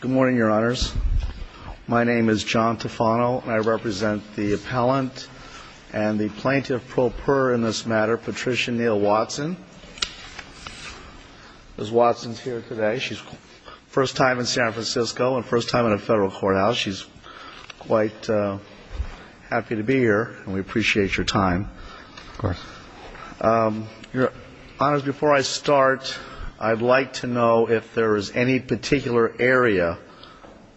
Good morning, Your Honors. My name is John Tufano, and I represent the appellant and the plaintiff pro per in this matter, Patricia Neal Watson. Ms. Watson is here today. She's first time in San Francisco and first time in a federal courthouse. She's quite happy to be here, and we appreciate your time. Of course. Your Honors, before I start, I'd like to know if there is any particular area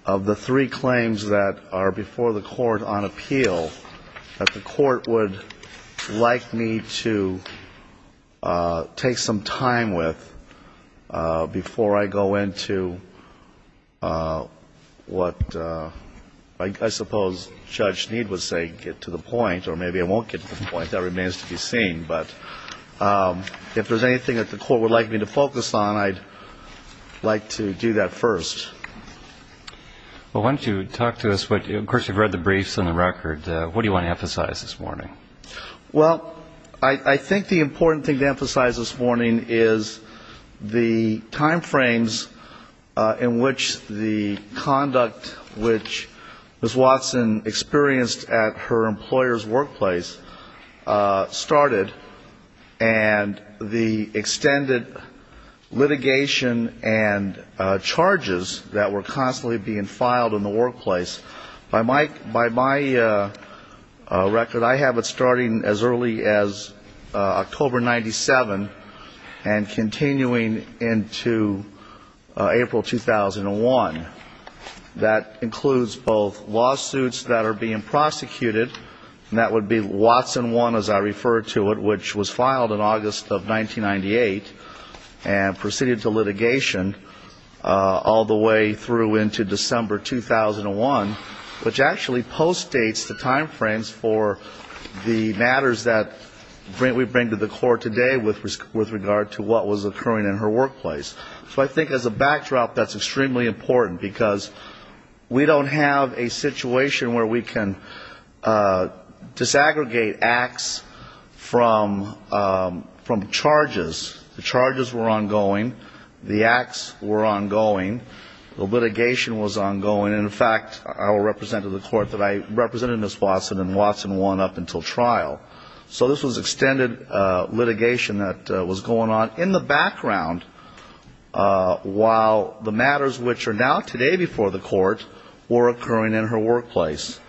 of the three claims that are before the Court on appeal that the Court would like me to take some time with before I go into what I suppose Judge Sneed was saying, get to the point, or maybe I won't get to the point. That remains to be seen. But if there's anything that the Court would like me to focus on, I'd like to do that first. Well, why don't you talk to us, of course, you've read the briefs and the record. What do you want to emphasize this morning? Well, I think the important thing to emphasize this morning is the time frames in which the workplace started and the extended litigation and charges that were constantly being filed in the workplace. By my record, I have it starting as early as October 97 and continuing into April 2001. That includes both lawsuits that are being prosecuted, and that would be Watson 1, as I refer to it, which was filed in August of 1998 and proceeded to litigation all the way through into December 2001, which actually postdates the time frames for the in her workplace. So I think as a backdrop, that's extremely important, because we don't have a situation where we can disaggregate acts from charges. The charges were ongoing. The acts were ongoing. The litigation was ongoing. In fact, I will represent to the Court that I represented Ms. Watson in Watson 1 up until trial. So this was extended litigation that was going on in the background, while the matters which are now today before the Court were occurring in her workplace.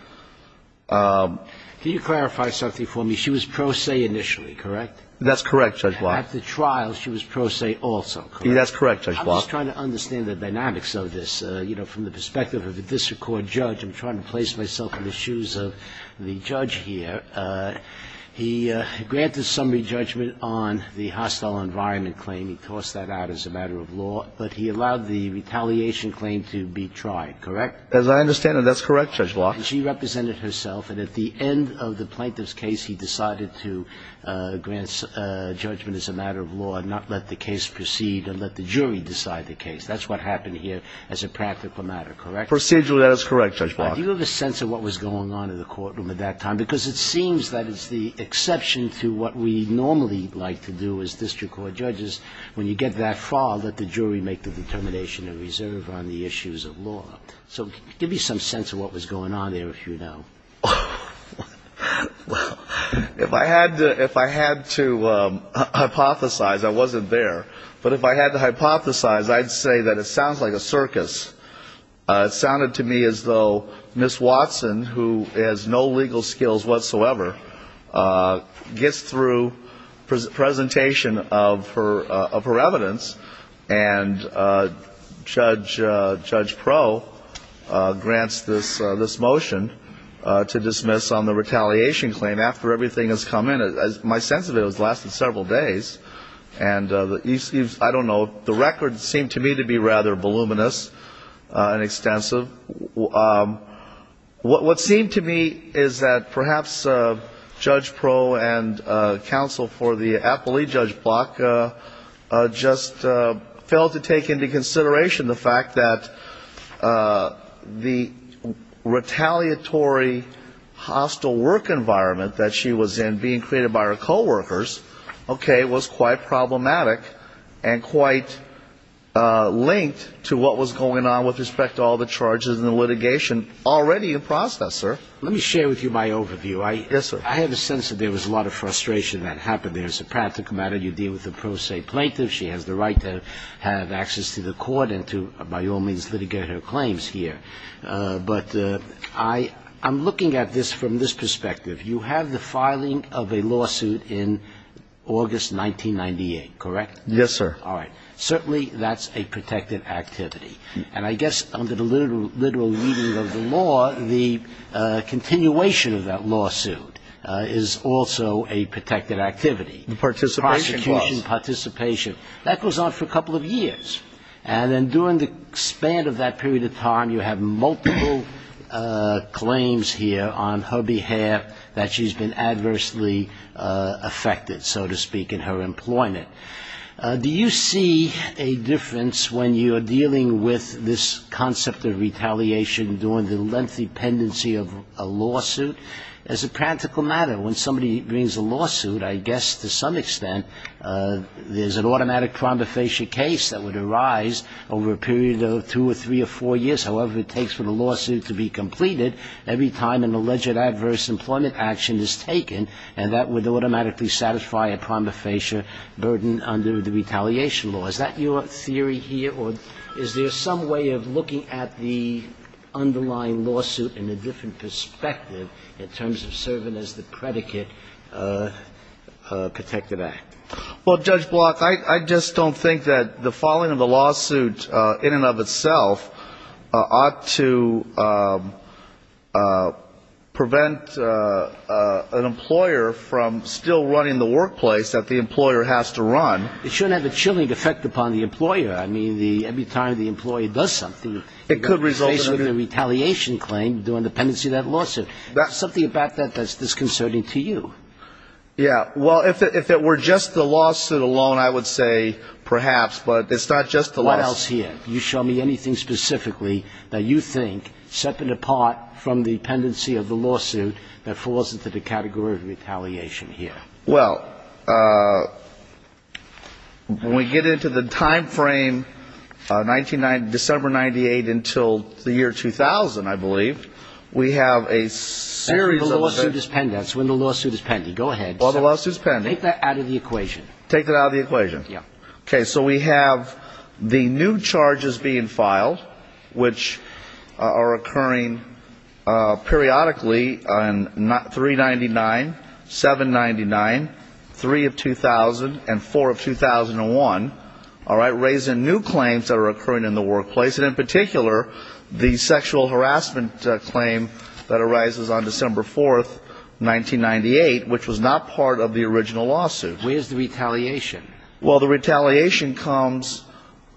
Can you clarify something for me? She was pro se initially, correct? That's correct, Judge Block. At the trial, she was pro se also, correct? That's correct, Judge Block. I'm just trying to understand the dynamics of this. You know, from the perspective of the district court judge, I'm trying to place myself in the shoes of the judge here. He granted summary judgment on the hostile environment claim. He tossed that out as a matter of law. But he allowed the retaliation claim to be tried, correct? As I understand it, that's correct, Judge Block. And she represented herself. And at the end of the plaintiff's case, he decided to grant judgment as a matter of law and not let the case proceed and let the jury decide the case. That's what happened here as a practical matter, correct? Procedurally, that is correct, Judge Block. Do you have a sense of what was going on in the courtroom at that time? Because it seems that it's the exception to what we normally like to do as district court judges. When you get that far, let the jury make the determination to reserve on the issues of law. So give me some sense of what was going on there, if you know. If I had to hypothesize, I wasn't there. But if I had to hypothesize, I'd say that it sounds like a circus. It sounded to me as though Ms. Watson, who has no legal skills whatsoever, gets through presentation of her evidence and Judge Pro grants this motion to dismiss on the retaliation claim after everything has come in. My sense of it was it lasted several days. And I don't know, the record seemed to me to be rather voluminous and extensive. What seemed to me is that perhaps Judge Pro and counsel for the appellee, Judge Block, just failed to take into consideration the fact that the retaliatory hostile work environment that she was in, being created by her coworkers, okay, was quite problematic and quite linked to what was going on with respect to all the charges and the litigation already in process, sir. Let me share with you my overview. I have a sense that there was a lot of frustration that happened there. It's a practical matter. You deal with a pro se plaintiff. She has the right to have access to the court and to, by all means, litigate her claims here. But I'm looking at this from this perspective. You have the filing of a lawsuit in August 1998, correct? Yes, sir. All right. Certainly that's a protected activity. And I guess under the literal meaning of the law, the continuation of that lawsuit is also a protected activity. The participation clause. Prosecution participation. That goes on for a couple of years. And then during the span of that period of time, you have multiple claims here on her behalf that she's been adversely affected, so to speak, in her employment. Do you see a difference when you're dealing with this concept of retaliation during the lengthy pendency of a lawsuit? It's a practical matter. When somebody brings a lawsuit, I guess to some extent, there's an automatic prompt to face your case that would arise over a period of two or three or four years. However, it takes for the lawsuit to be completed every time an alleged adverse employment action is taken, and that would automatically satisfy a prima facie burden under the retaliation law. Is that your theory here? Or is there some way of looking at the underlying lawsuit in a different perspective in terms of serving as the predicate protected act? Well, Judge Block, I just don't think that the following of the lawsuit in and of itself ought to prevent an employer from still running the workplace that the employer has to run. It shouldn't have a chilling effect upon the employer. I mean, every time the employee does something, it could result in a retaliation claim during the pendency of that lawsuit. Is there something about that that's disconcerting to you? Yeah. Well, if it were just the lawsuit alone, I would say perhaps, but it's not just the lawsuit. What else here? Can you show me anything specifically that you think, separate apart from the pendency of the lawsuit, that falls into the category of retaliation here? Well, when we get into the time frame, December 98 until the year 2000, I believe, we have a series of the When the lawsuit is pending. Go ahead. When the lawsuit is pending. Take that out of the equation. Take that out of the equation. Okay, so we have the new charges being filed, which are occurring periodically on 399, 799, 3 of 2000, and 4 of 2001, all right, raising new claims that are occurring in the workplace, and in particular, the sexual harassment claim that was filed on August 4th, 1998, which was not part of the original lawsuit. Where's the retaliation? Well, the retaliation comes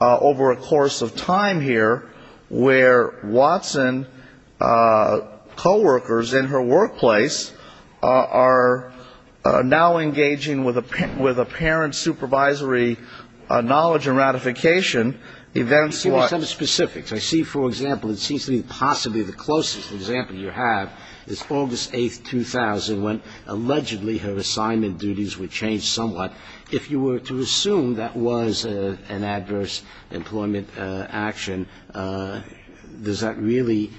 over a course of time here, where Watson co-workers in her workplace are now engaging with apparent supervisory knowledge and ratification. Give me some specifics. I see, for example, it seems to me possibly the closest example you have is August 8th, 2000, when allegedly her assignment duties were changed somewhat. If you were to assume that was an adverse employment action, does that really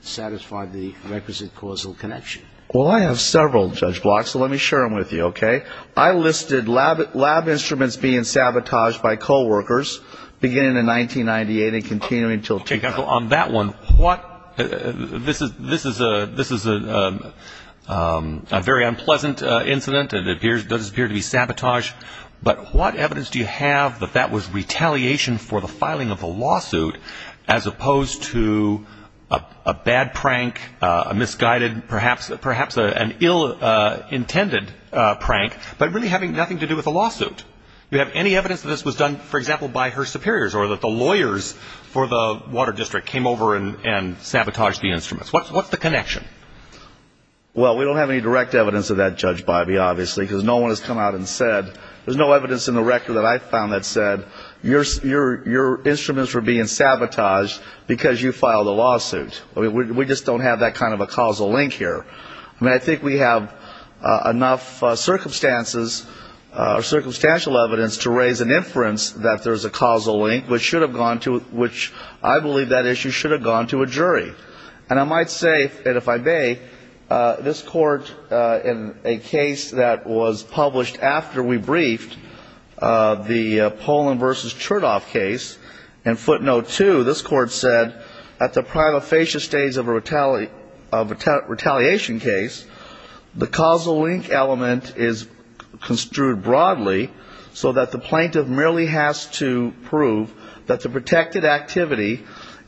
satisfy the requisite causal connection? Well, I have several, Judge Block, so let me share them with you, okay? I listed lab instruments being sabotaged by co-workers, beginning in 1998 and continuing until 2010. On that one, this is a very unpleasant incident. It does appear to be sabotage, but what evidence do you have that that was retaliation for the filing of the lawsuit, as opposed to a bad prank, a misguided, perhaps an ill-intended prank, but really having nothing to do with the lawsuit? Do you have any evidence that this was done, for example, by her superiors, or that the lawyers for the water district came over and sabotaged the instruments? What's the connection? Well, we don't have any direct evidence of that, Judge Bybee, obviously, because no one has come out and said, there's no evidence in the record that I've found that said, your instruments were being sabotaged because you filed a lawsuit. We just don't have that kind of a causal link here. I mean, I think we have enough circumstances or circumstantial evidence to raise an inference that there's a causal link, which I believe that issue should have gone to a jury. And I might say, if I may, this Court, in a case that was published after we briefed, the Pollin v. Chertoff case, in footnote 2, this Court said, at the prima facie stage of a retaliation case, the causal link element is construed broadly, so that the plaintiff merely has to prove that the protected activity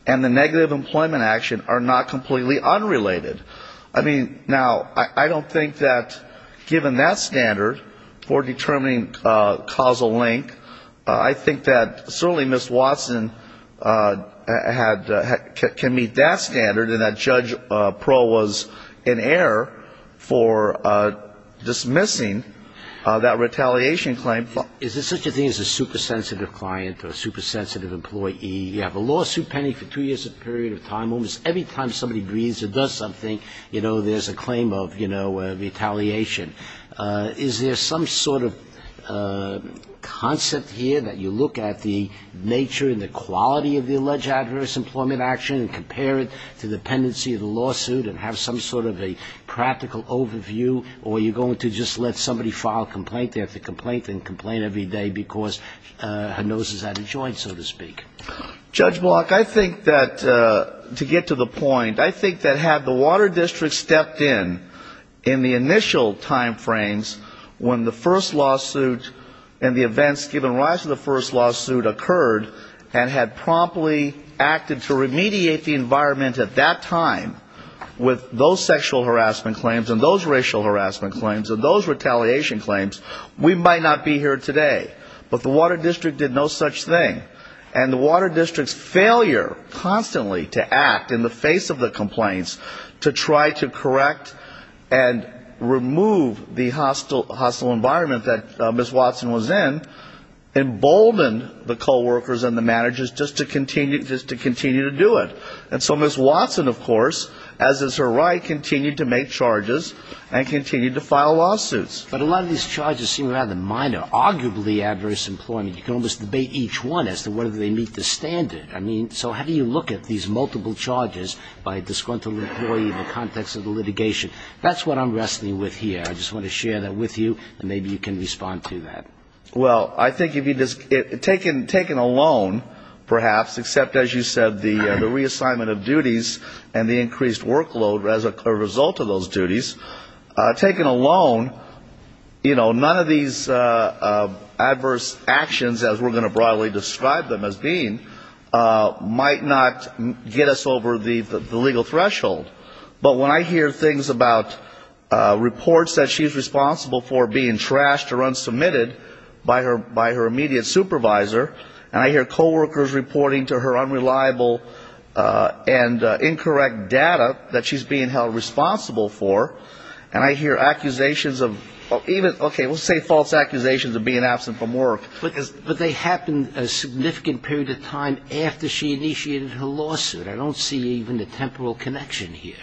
and the negative employment action are not completely unrelated. I mean, now, I don't think that, given that standard for determining causal link, I think that certainly Ms. Watson had, can meet that standard, and that Judge Proh was in error for dismissing that retaliation claim. Is it such a thing as a super sensitive client or a super sensitive employee? You have a lawsuit pending for two years, a period of time, almost every time somebody breathes or does something, you know, there's a claim of, you know, retaliation. Is there some sort of concept here that you look at the nature and the quality of the alleged adverse employment action and compare it to the pendency of the lawsuit and have some sort of a practical overview, or are you going to just let somebody file a complaint? They have to complain and complain every day because her nose is out of joint, so to speak. Judge Block, I think that, to get to the point, I think that had the Water District stepped in, in the initial time frames, when the first lawsuit and the events given rise to the first lawsuit occurred, and had promptly acted to remediate the environment at that time with those sexual harassment claims and those racial harassment claims and those retaliation claims, we might not be here today. But the Water District did no such thing. And the Water District's failure constantly to act in the face of the complaints to try to correct and embolden the coworkers and the managers just to continue to do it. And so Ms. Watson, of course, as is her right, continued to make charges and continued to file lawsuits. But a lot of these charges seem rather minor, arguably adverse employment. You can almost debate each one as to whether they meet the standard. I mean, so how do you look at these multiple charges by disgruntled employee in the context of the litigation? That's what I'm wrestling with here. I just want to share that with you, and maybe you can respond to that. Well, I think if you just, taken alone, perhaps, except, as you said, the reassignment of duties and the increased workload as a result of those duties, taken alone, you know, none of these adverse actions as we're going to broadly describe them as being might not get us over the legal threshold. But when I hear things about reports that she's responsible for being trashed or unsubmitted by her immediate supervisor, and I hear coworkers reporting to her unreliable and incorrect data that she's being held responsible for, and I hear accusations of even, okay, let's say false accusations of being absent from work. But they happened a significant period of time after she initiated her lawsuit. I don't see even the temporal connection here.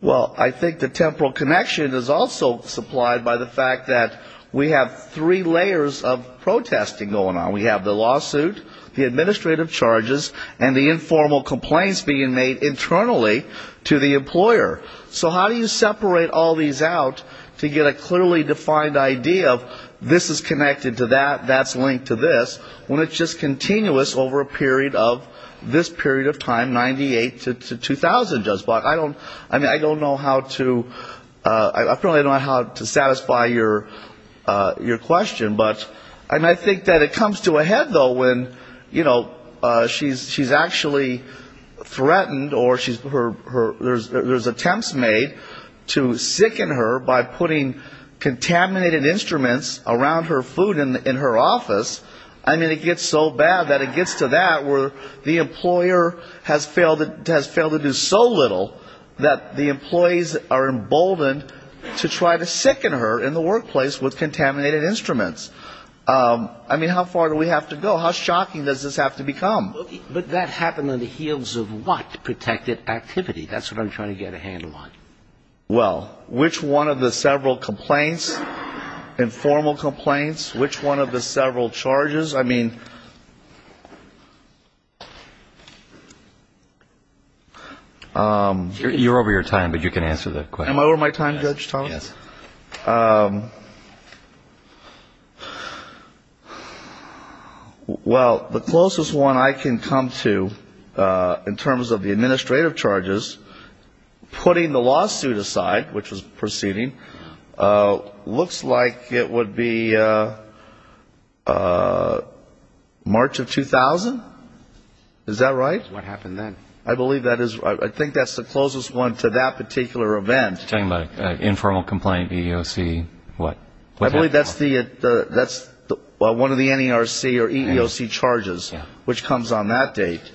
Well, I think the temporal connection is also supplied by the fact that we have three layers of protesting going on. We have the lawsuit, the administrative charges, and the informal complaints being made internally to the employer. So how do you separate all these out to get a clearly defined idea of this is connected to that, that's linked to this, when it's just continuous over a period of this period of time, 98 to 2000, just about. I don't know how to, I probably don't know how to satisfy your question, but I think that it comes to a head, though, when, you know, she's actually threatened or there's attempts made to sicken her by putting contaminated instruments around her food in her office. I mean, it gets so real that the employees are emboldened to try to sicken her in the workplace with contaminated instruments. I mean, how far do we have to go? How shocking does this have to become? But that happened on the heels of what? Protected activity. That's what I'm trying to get a handle on. Well, which one of the several complaints, informal complaints, which one of the several charges? I mean... You're over your time, but you can answer the question. Am I over my time, Judge Thomas? Yes. Well, the closest one I can come to in terms of the administrative charges, putting the date, March of 2000? Is that right? What happened then? I believe that is, I think that's the closest one to that particular event. You're talking about an informal complaint, EEOC, what? I believe that's one of the NERC or EEOC charges, which comes on that date.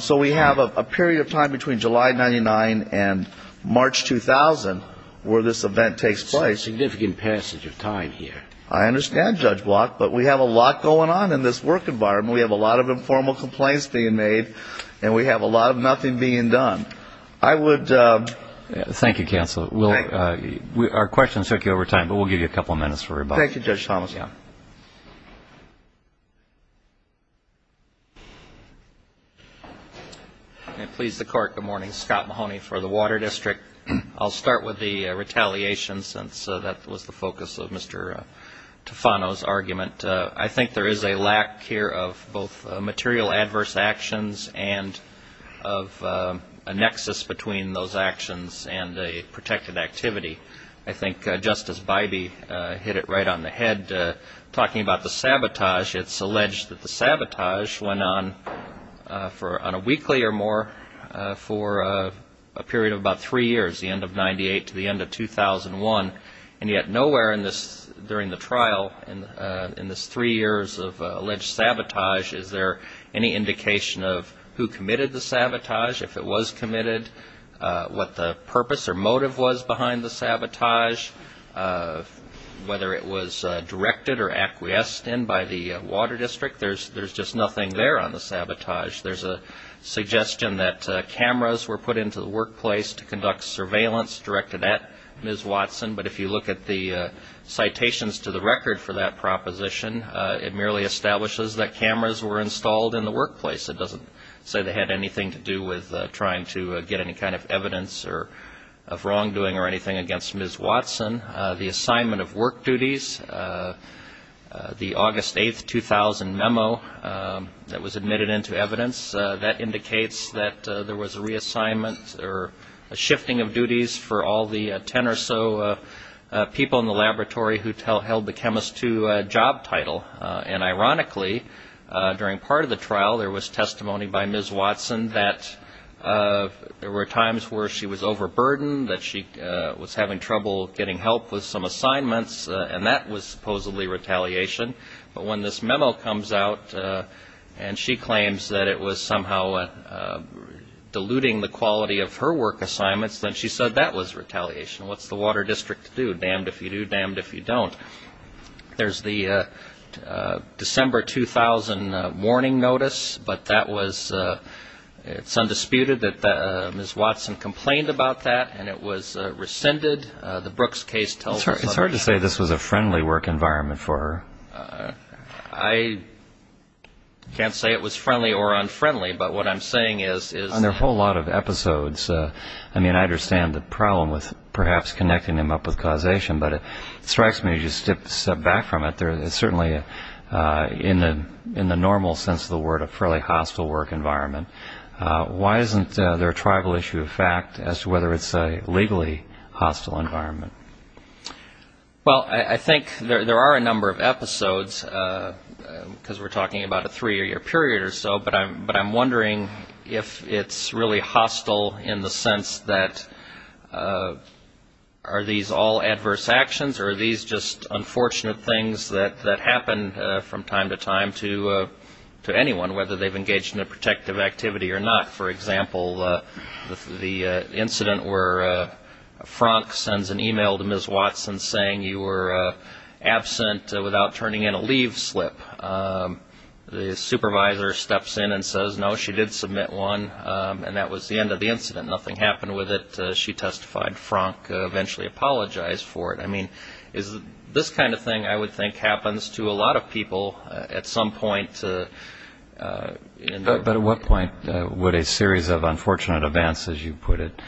So we have a period of time between July of 99 and March 2000 where this event takes place. It's a significant passage of time here. I understand, Judge Block, but we have a lot going on in this work environment. We have a lot of informal complaints being made, and we have a lot of nothing being done. I would... Thank you, counsel. Our questions took you over time, but we'll give you a couple of minutes for rebuttal. Thank you, Judge Thomas. May it please the Court, good morning. Scott Mahoney for the Water District. I'll start with the retaliation since that was the focus of Mr. Tufano's argument. I think there is a lack here of both material adverse actions and of a nexus between those actions and a protected activity. I think Justice Bybee hit it right on the head. Talking about the sabotage, it's alleged that the sabotage went on for, on a weekly or more, for a period of about three years, the end of 98 to the end of 2001, and yet nowhere in this, during the trial, in this three years of alleged sabotage is there any indication of who committed the sabotage, if it was committed, what the purpose or motive was behind the sabotage, whether it was directed or acquiesced in by the Water District. There's just nothing there on the sabotage. There's a suggestion that cameras were put into the workplace to conduct surveillance directed at Ms. Watson, but if you look at the citations to the record for that proposition, it merely establishes that cameras were installed in the workplace. It doesn't say they had anything to do with trying to get any kind of evidence of wrongdoing or anything against Ms. Watson. The assignment of work duties, the August 8, 2000 memo that was admitted into evidence, that indicates that there was a reassignment or a shifting of duties for all the ten or so people in the laboratory who held the chemist to job title. And ironically, during part of the trial, there was testimony by Ms. Watson that there were times where she was overburdened, that she was having trouble getting help with some assignments, and that was supposedly retaliation. But when this memo comes out and she claims that it was somehow diluting the quality of her work assignments, then she said that was retaliation. What's the Water District to do? Damned if you do, damned if you don't. There's the December 2000 warning notice, but that was, it's undisputed that Ms. Watson complained about that, and it was rescinded. The Brooks case tells us otherwise. It's hard to say this was a friendly work environment for her. I can't say it was friendly or unfriendly, but what I'm saying is, is... On their whole lot of episodes, I mean, I understand the problem with perhaps connecting them up with causation, but it strikes me as you step back from it, there is certainly a, in the normal sense of the word, a fairly hostile work environment. Why isn't there a tribal issue of fact as to whether it's a legally hostile environment? Well I think there are a number of episodes, because we're talking about a three-year period or so, but I'm wondering if it's really hostile in the sense that, are these all adverse actions or are these just unfortunate things that happen from time to time to anyone, whether they've engaged in a protective activity or not? For example, the incident where Frank sends an email to Ms. Watson saying you were absent without turning in a leave slip. The supervisor steps in and says, no, she did submit one, and that was the end of the incident. Nothing happened with it. She testified. Frank eventually apologized for it. I mean, is this kind of thing, I would think, happens to a lot of people at some point in their... But at what point would a series of unfortunate events, as you put it,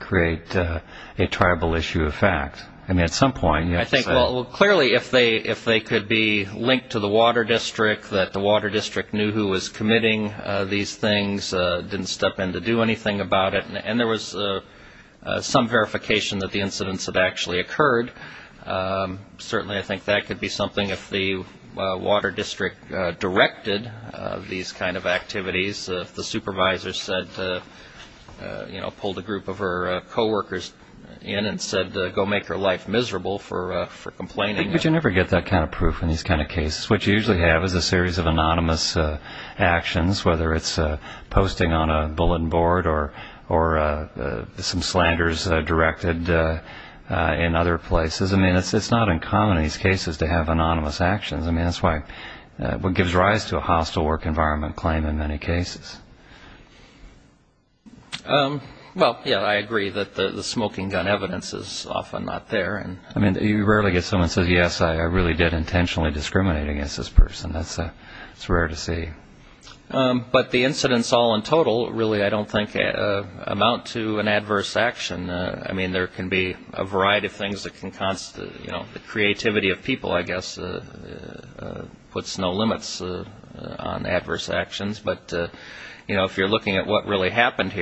create a tribal issue of fact? I mean, at some point, you have to say... I think, well, clearly, if they could be linked to the water district, that the water district knew who was committing these things, didn't step in to do anything about it, and there was some verification that the incidents had actually occurred, certainly I think that could be something if the water district directed these kind of activities, if the supervisor said, you know, pulled a group of her co-workers in and said, go make her life miserable for complaining. But you never get that kind of proof in these kind of cases. What you usually have is a series of anonymous actions, whether it's posting on a bulletin board or some slanders directed in other places. I mean, it's not uncommon in these cases to have anonymous actions. I mean, that's what gives rise to a hostile work environment claim in many cases. Well, yeah, I agree that the smoking gun evidence is often not there. I mean, you rarely get someone who says, yes, I really did intentionally discriminate against this person. That's rare to see. But the incidents all in total really, I don't think, amount to an adverse action. I mean, there can be a variety of things that can constitute, you know, the creativity of people, I guess, puts no limits on adverse actions. But, you know, if you're looking at what really happened,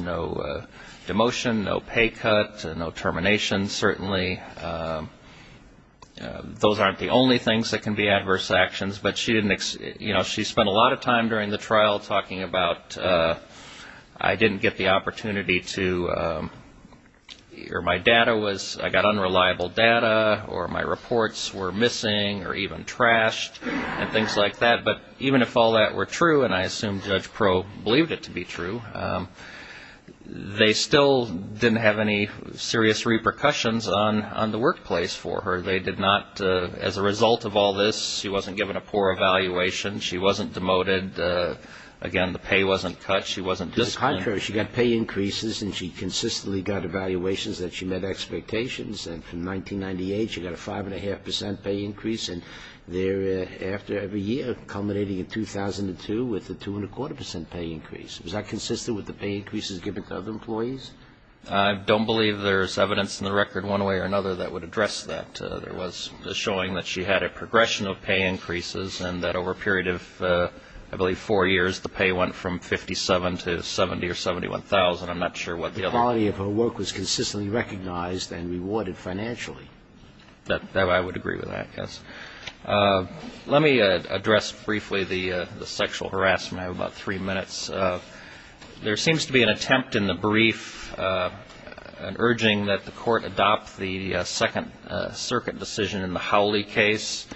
no demotion, no pay cut, no termination, certainly, those aren't the only things that can be adverse actions. But she didn't, you know, she spent a lot of time during the trial talking about, I didn't get the opportunity to, or my data was, I got unreliable data or my reports were missing or even trashed and things like that. But even if all that were true, and I assume Judge Proe believed it to be true, they still didn't have any serious repercussions on the workplace for her. They did not, as a result of all this, she wasn't given a poor evaluation. She wasn't demoted. Again, the pay wasn't cut. She wasn't disciplined. To the contrary, she got pay increases and she consistently got evaluations that she met expectations. And from 1998, she got a 5.5% pay increase. And thereafter, every year, culminating in 2002, with a 2.25% pay increase. Was that consistent with the pay increases given to other employees? I don't believe there's evidence in the record one way or another that would address that. There was showing that she had a progression of pay increases and that over a period of, I believe, four years, the pay went from 57 to 70 or 71,000. I'm not sure what the other part is. The quality of her work was consistently recognized and rewarded financially. I would agree with that, yes. Let me address briefly the sexual harassment. I have about three minutes. There seems to be an attempt in the brief, an urging that the court adopt the Second Circuit decision in the Howley case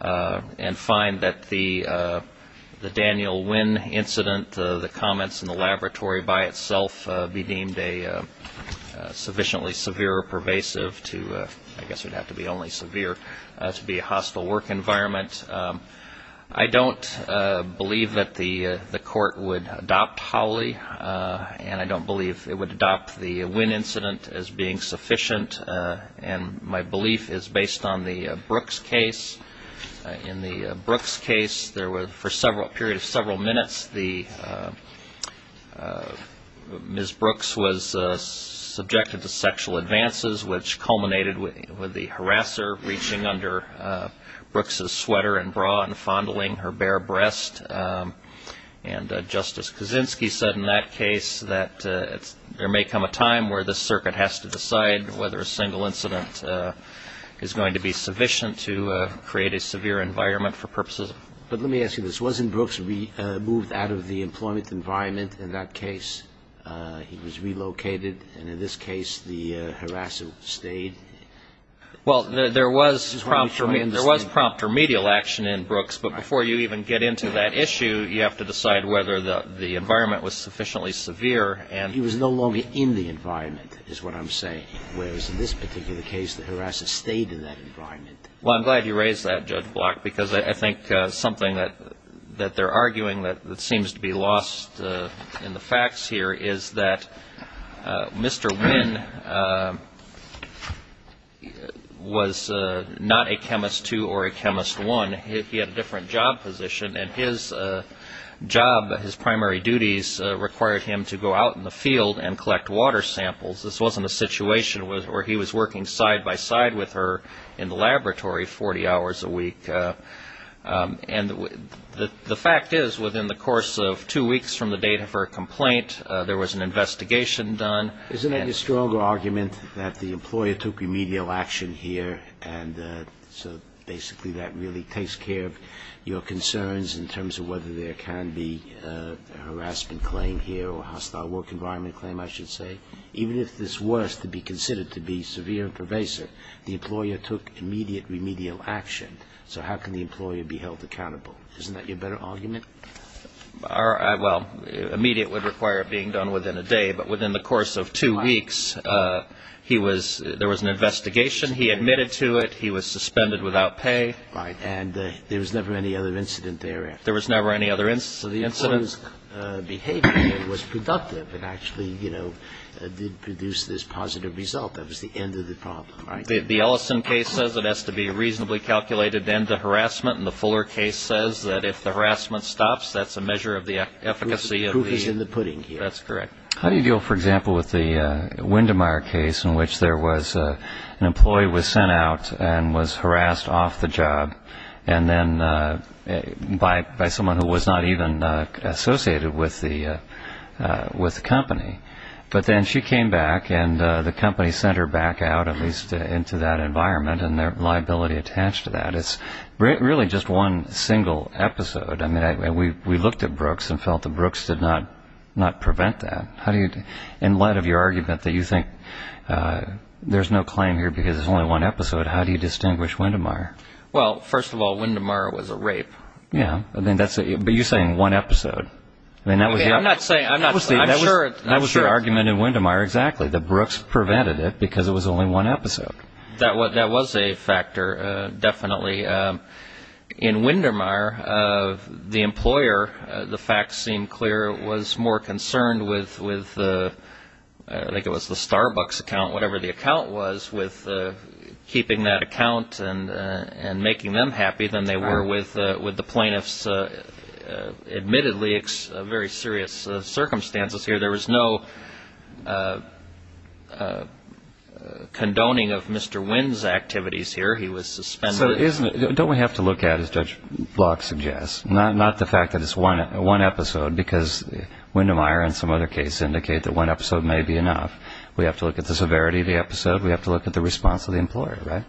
and find that the Daniel Wynn incident, the comments in the laboratory by itself, be deemed a sufficiently severe or pervasive to, I guess it would have to be only severe, to be a hostile work environment. I don't believe that the court would adopt Howley and I don't believe it would adopt the Wynn incident as being sufficient. And my belief is based on the Brooks case. In the Brooks case, there were, for a period of several minutes, Ms. Brooks was subjected to sexual advances, which culminated with the harasser reaching under Brooks' sweater and bra and fondling her bare breast. And Justice Kaczynski said in that case that there may come a time where the circuit has to decide whether a single incident is going to be sufficient to create a severe environment for purposes of the court. But let me ask you this. Wasn't Brooks removed out of the employment environment in that case? He was relocated. And in this case, the harasser stayed? Well, there was prompt remedial action in Brooks, but before you even get into that issue, you have to decide whether the environment was sufficiently severe and He was no longer in the environment, is what I'm saying, whereas in this particular case, the harasser stayed in that environment. Well, I'm glad you raised that, Judge Block, because I think something that they're arguing that seems to be lost in the facts here is that Mr. Wynn was not a chemist two or a chemist one. He had a different job position, and his job, his primary duties required him to go out in the field and collect water samples. This wasn't a situation where he was working side by side with her in the laboratory 40 hours a week. And the fact is, within the course of two weeks from the date of her complaint, there was an investigation done. Isn't it a stronger argument that the employer took remedial action here, and so basically that really takes care of your concerns in terms of whether there can be a harassment claim here or a hostile work environment claim, I should say? Even if this was to be considered to be severe and pervasive, the employer took immediate remedial action. So how can the employer be held accountable? Isn't that your better argument? Well, immediate would require it being done within a day, but within the course of two weeks, there was an investigation. He admitted to it. He was suspended without pay. Right. And there was never any other incident there. There was never any other incident. So the employer's behavior was productive. It actually, you know, did produce this positive result. That was the end of the problem, right? The Ellison case says it has to be reasonably calculated to end the harassment, and the Fuller case says that if the harassment stops, that's a measure of the efficacy of the Proof is in the pudding here. That's correct. How do you deal, for example, with the Windemeyer case in which there was an employee was sent out and was harassed off the job, and then by someone who was not even associated with the company. But then she came back, and the company sent her back out, at least into that environment and their liability attached to that. It's really just one single episode. I mean, we looked at Brooks and felt that Brooks did not prevent that. In light of your one episode, how do you distinguish Windemeyer? Well, first of all, Windemeyer was a rape. Yeah. But you're saying one episode. I'm not saying. I'm sure. That was your argument in Windemeyer, exactly, that Brooks prevented it because it was only one episode. That was a factor, definitely. In Windemeyer, the employer, the facts seemed clear, was more concerned with, I think it was the Starbucks account, whatever the account was, with keeping that account and making them happy than they were with the plaintiffs. Admittedly, very serious circumstances here. There was no condoning of Mr. Wind's activities here. He was suspended. So don't we have to look at, as Judge Block suggests, not the fact that it's one episode, because Windemeyer and some other cases indicate that one episode may be enough. We have to look at the severity of the episode. We have to look at the response of the employer, right?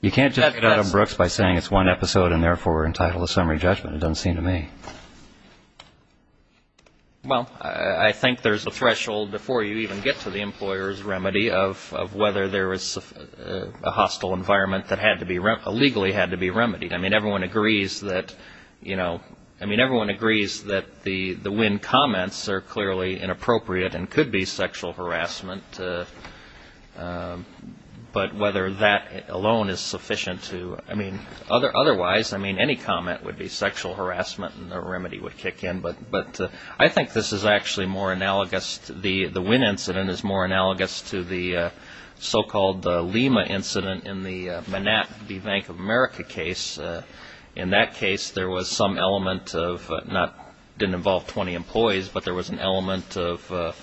You can't judge Adam Brooks by saying it's one episode and therefore we're entitled to summary judgment. It doesn't seem to me. Well, I think there's a threshold before you even get to the employer's remedy of whether there was a hostile environment that had to be, legally had to be remedied. I mean, everyone agrees that, you know, I mean, everyone agrees that the Wind comments are clearly inappropriate and could be sexual harassment. But whether that alone is sufficient to, I mean, otherwise, I mean, any comment would be sexual harassment and the remedy would kick in. But I think this is actually more analogous, the Wind incident is more analogous to the so-called Lima incident in the Manat v. Bank of America case. In that case, there was some element of, not, didn't involve 20 employees, but there was an element of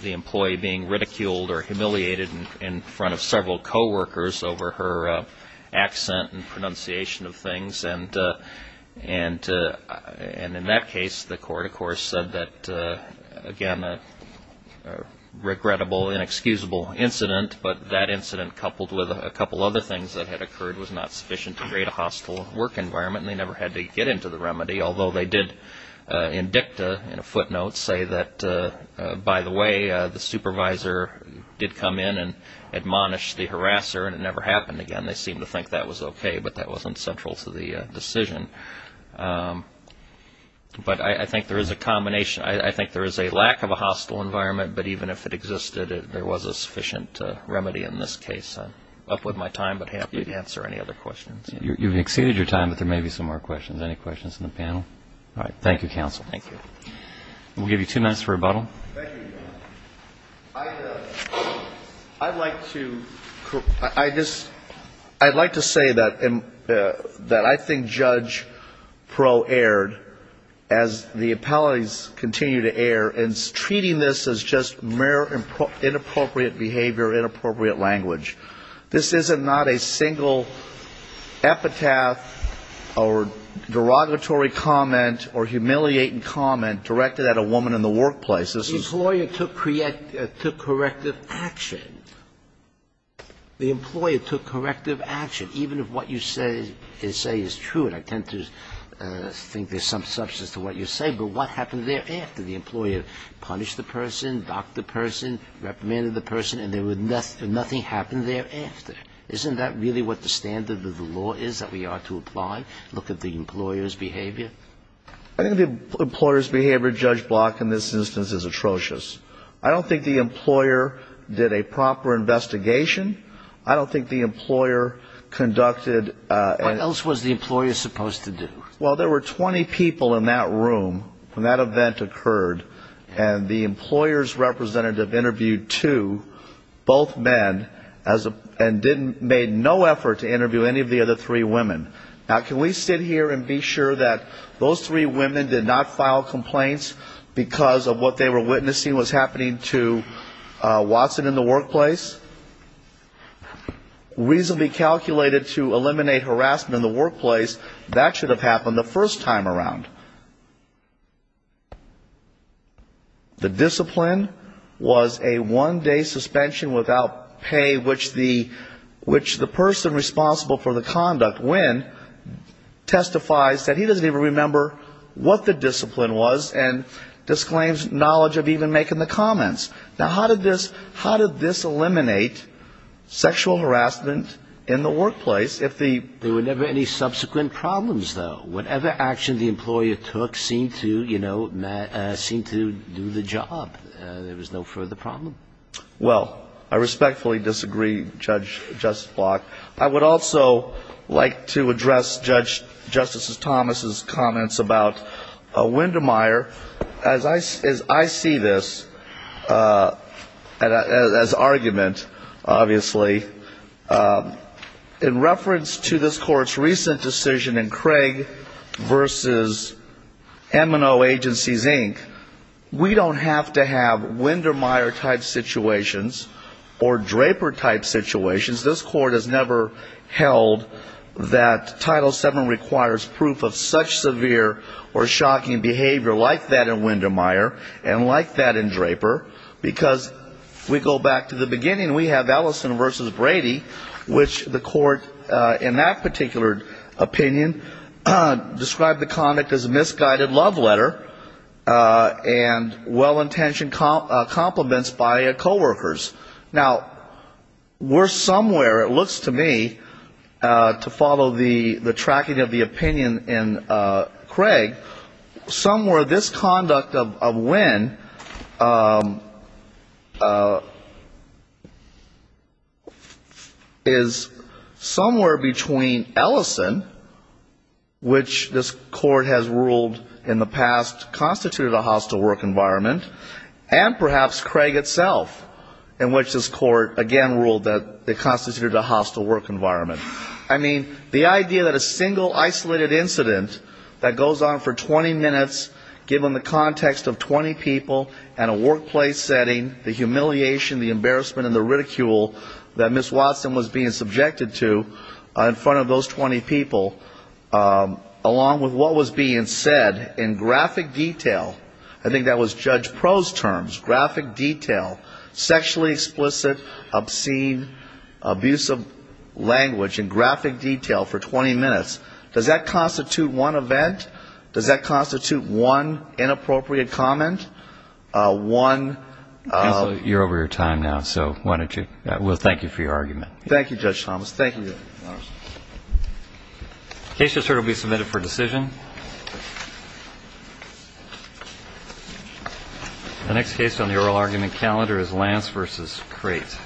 the employee being ridiculed or humiliated in front of several coworkers over her accent and pronunciation of things. And in that case, the court, of course, said that, again, a regrettable, inexcusable incident, but that incident coupled with a couple other things that had occurred was not sufficient to create a hostile work environment and they never had to get into the remedy, although they did, in dicta, in a footnote, say that, by the way, the supervisor did come in and admonish the harasser and it never happened again. They seemed to think that was okay, but that wasn't central to the decision. But I think there is a combination, I think there is a lack of a hostile environment, but even if it existed, there was a sufficient remedy in this case. I'm up with my time, but happy to answer any other questions. You've exceeded your time, but there may be some more questions. Any questions from the panel? All right. Thank you, counsel. Thank you. We'll give you two minutes for rebuttal. Thank you, Your Honor. I'd like to, I just, I'd like to say that I think Judge Proe erred as the appellees continue to err in treating this as just mere inappropriate behavior, inappropriate language. This is not a single epitaph or derogatory comment or humiliating comment directed at a woman in the workplace. This is the employee took corrective action. The employer took corrective action, even if what you say is true, and I tend to think there's some substance to what you say, but what happened thereafter? The employer punished the person, docked the person, reprimanded the person, and nothing happened thereafter. Isn't that really what the standard of the law is, that we ought to apply? Look at the employer's behavior? I think the employer's behavior, Judge Block, in this instance is atrocious. I don't think the employer did a proper investigation. I don't think the employer conducted What else was the employer supposed to do? Well, there were 20 people in that room when that event occurred, and the employer's representative interviewed two, both men, and didn't, made no effort to interview any of the other three women. Now, can we sit here and be sure that those three women did not Watson in the workplace? Reasonably calculated to eliminate harassment in the workplace, that should have happened the first time around. The discipline was a one-day suspension without pay, which the person responsible for the conduct, Wynn, testifies that he doesn't even remember what the discipline was, and Now, how did this eliminate sexual harassment in the workplace if the There were never any subsequent problems, though. Whatever action the employer took seemed to, you know, seem to do the job. There was no further problem. Well, I respectfully disagree, Judge Block. I would also like to address Justice Thomas's argument, obviously. In reference to this Court's recent decision in Craig v. M&O Agencies, Inc., we don't have to have Windermeyer-type situations or Draper-type situations. This Court has never held that Title VII requires proof of such severe or because we go back to the beginning, we have Ellison v. Brady, which the Court in that particular opinion described the conduct as a misguided love letter and well-intentioned compliments by coworkers. Now, we're somewhere, it looks to me, to follow the tracking of the opinion in Craig, somewhere this conduct of Wind is somewhere between Ellison, which this Court has ruled in the past constituted a hostile work environment, and perhaps Craig itself, in which this Court again ruled that it constituted a hostile work environment. I mean, the idea that a single isolated incident that goes on for 20 minutes, given the context of 20 people and a workplace setting, the humiliation, the embarrassment and the ridicule that Ms. Watson was being subjected to in front of those 20 people, along with what was being said in graphic detail, I think that was Judge Pro's terms, graphic detail, sexually explicit, obscene, abusive language in the context of 20 minutes, and I think that's a good argument. And I think that's a good argument. And I think that's a good argument. Does that constitute one inappropriate comment? One of the ---- You're over your time now, so why don't you ---- well, thank you for your argument. Thank you, Judge Thomas. Thank you, Your Honor. The case just heard will be submitted for decision. The next case on the oral argument calendar is Lance v. Crate.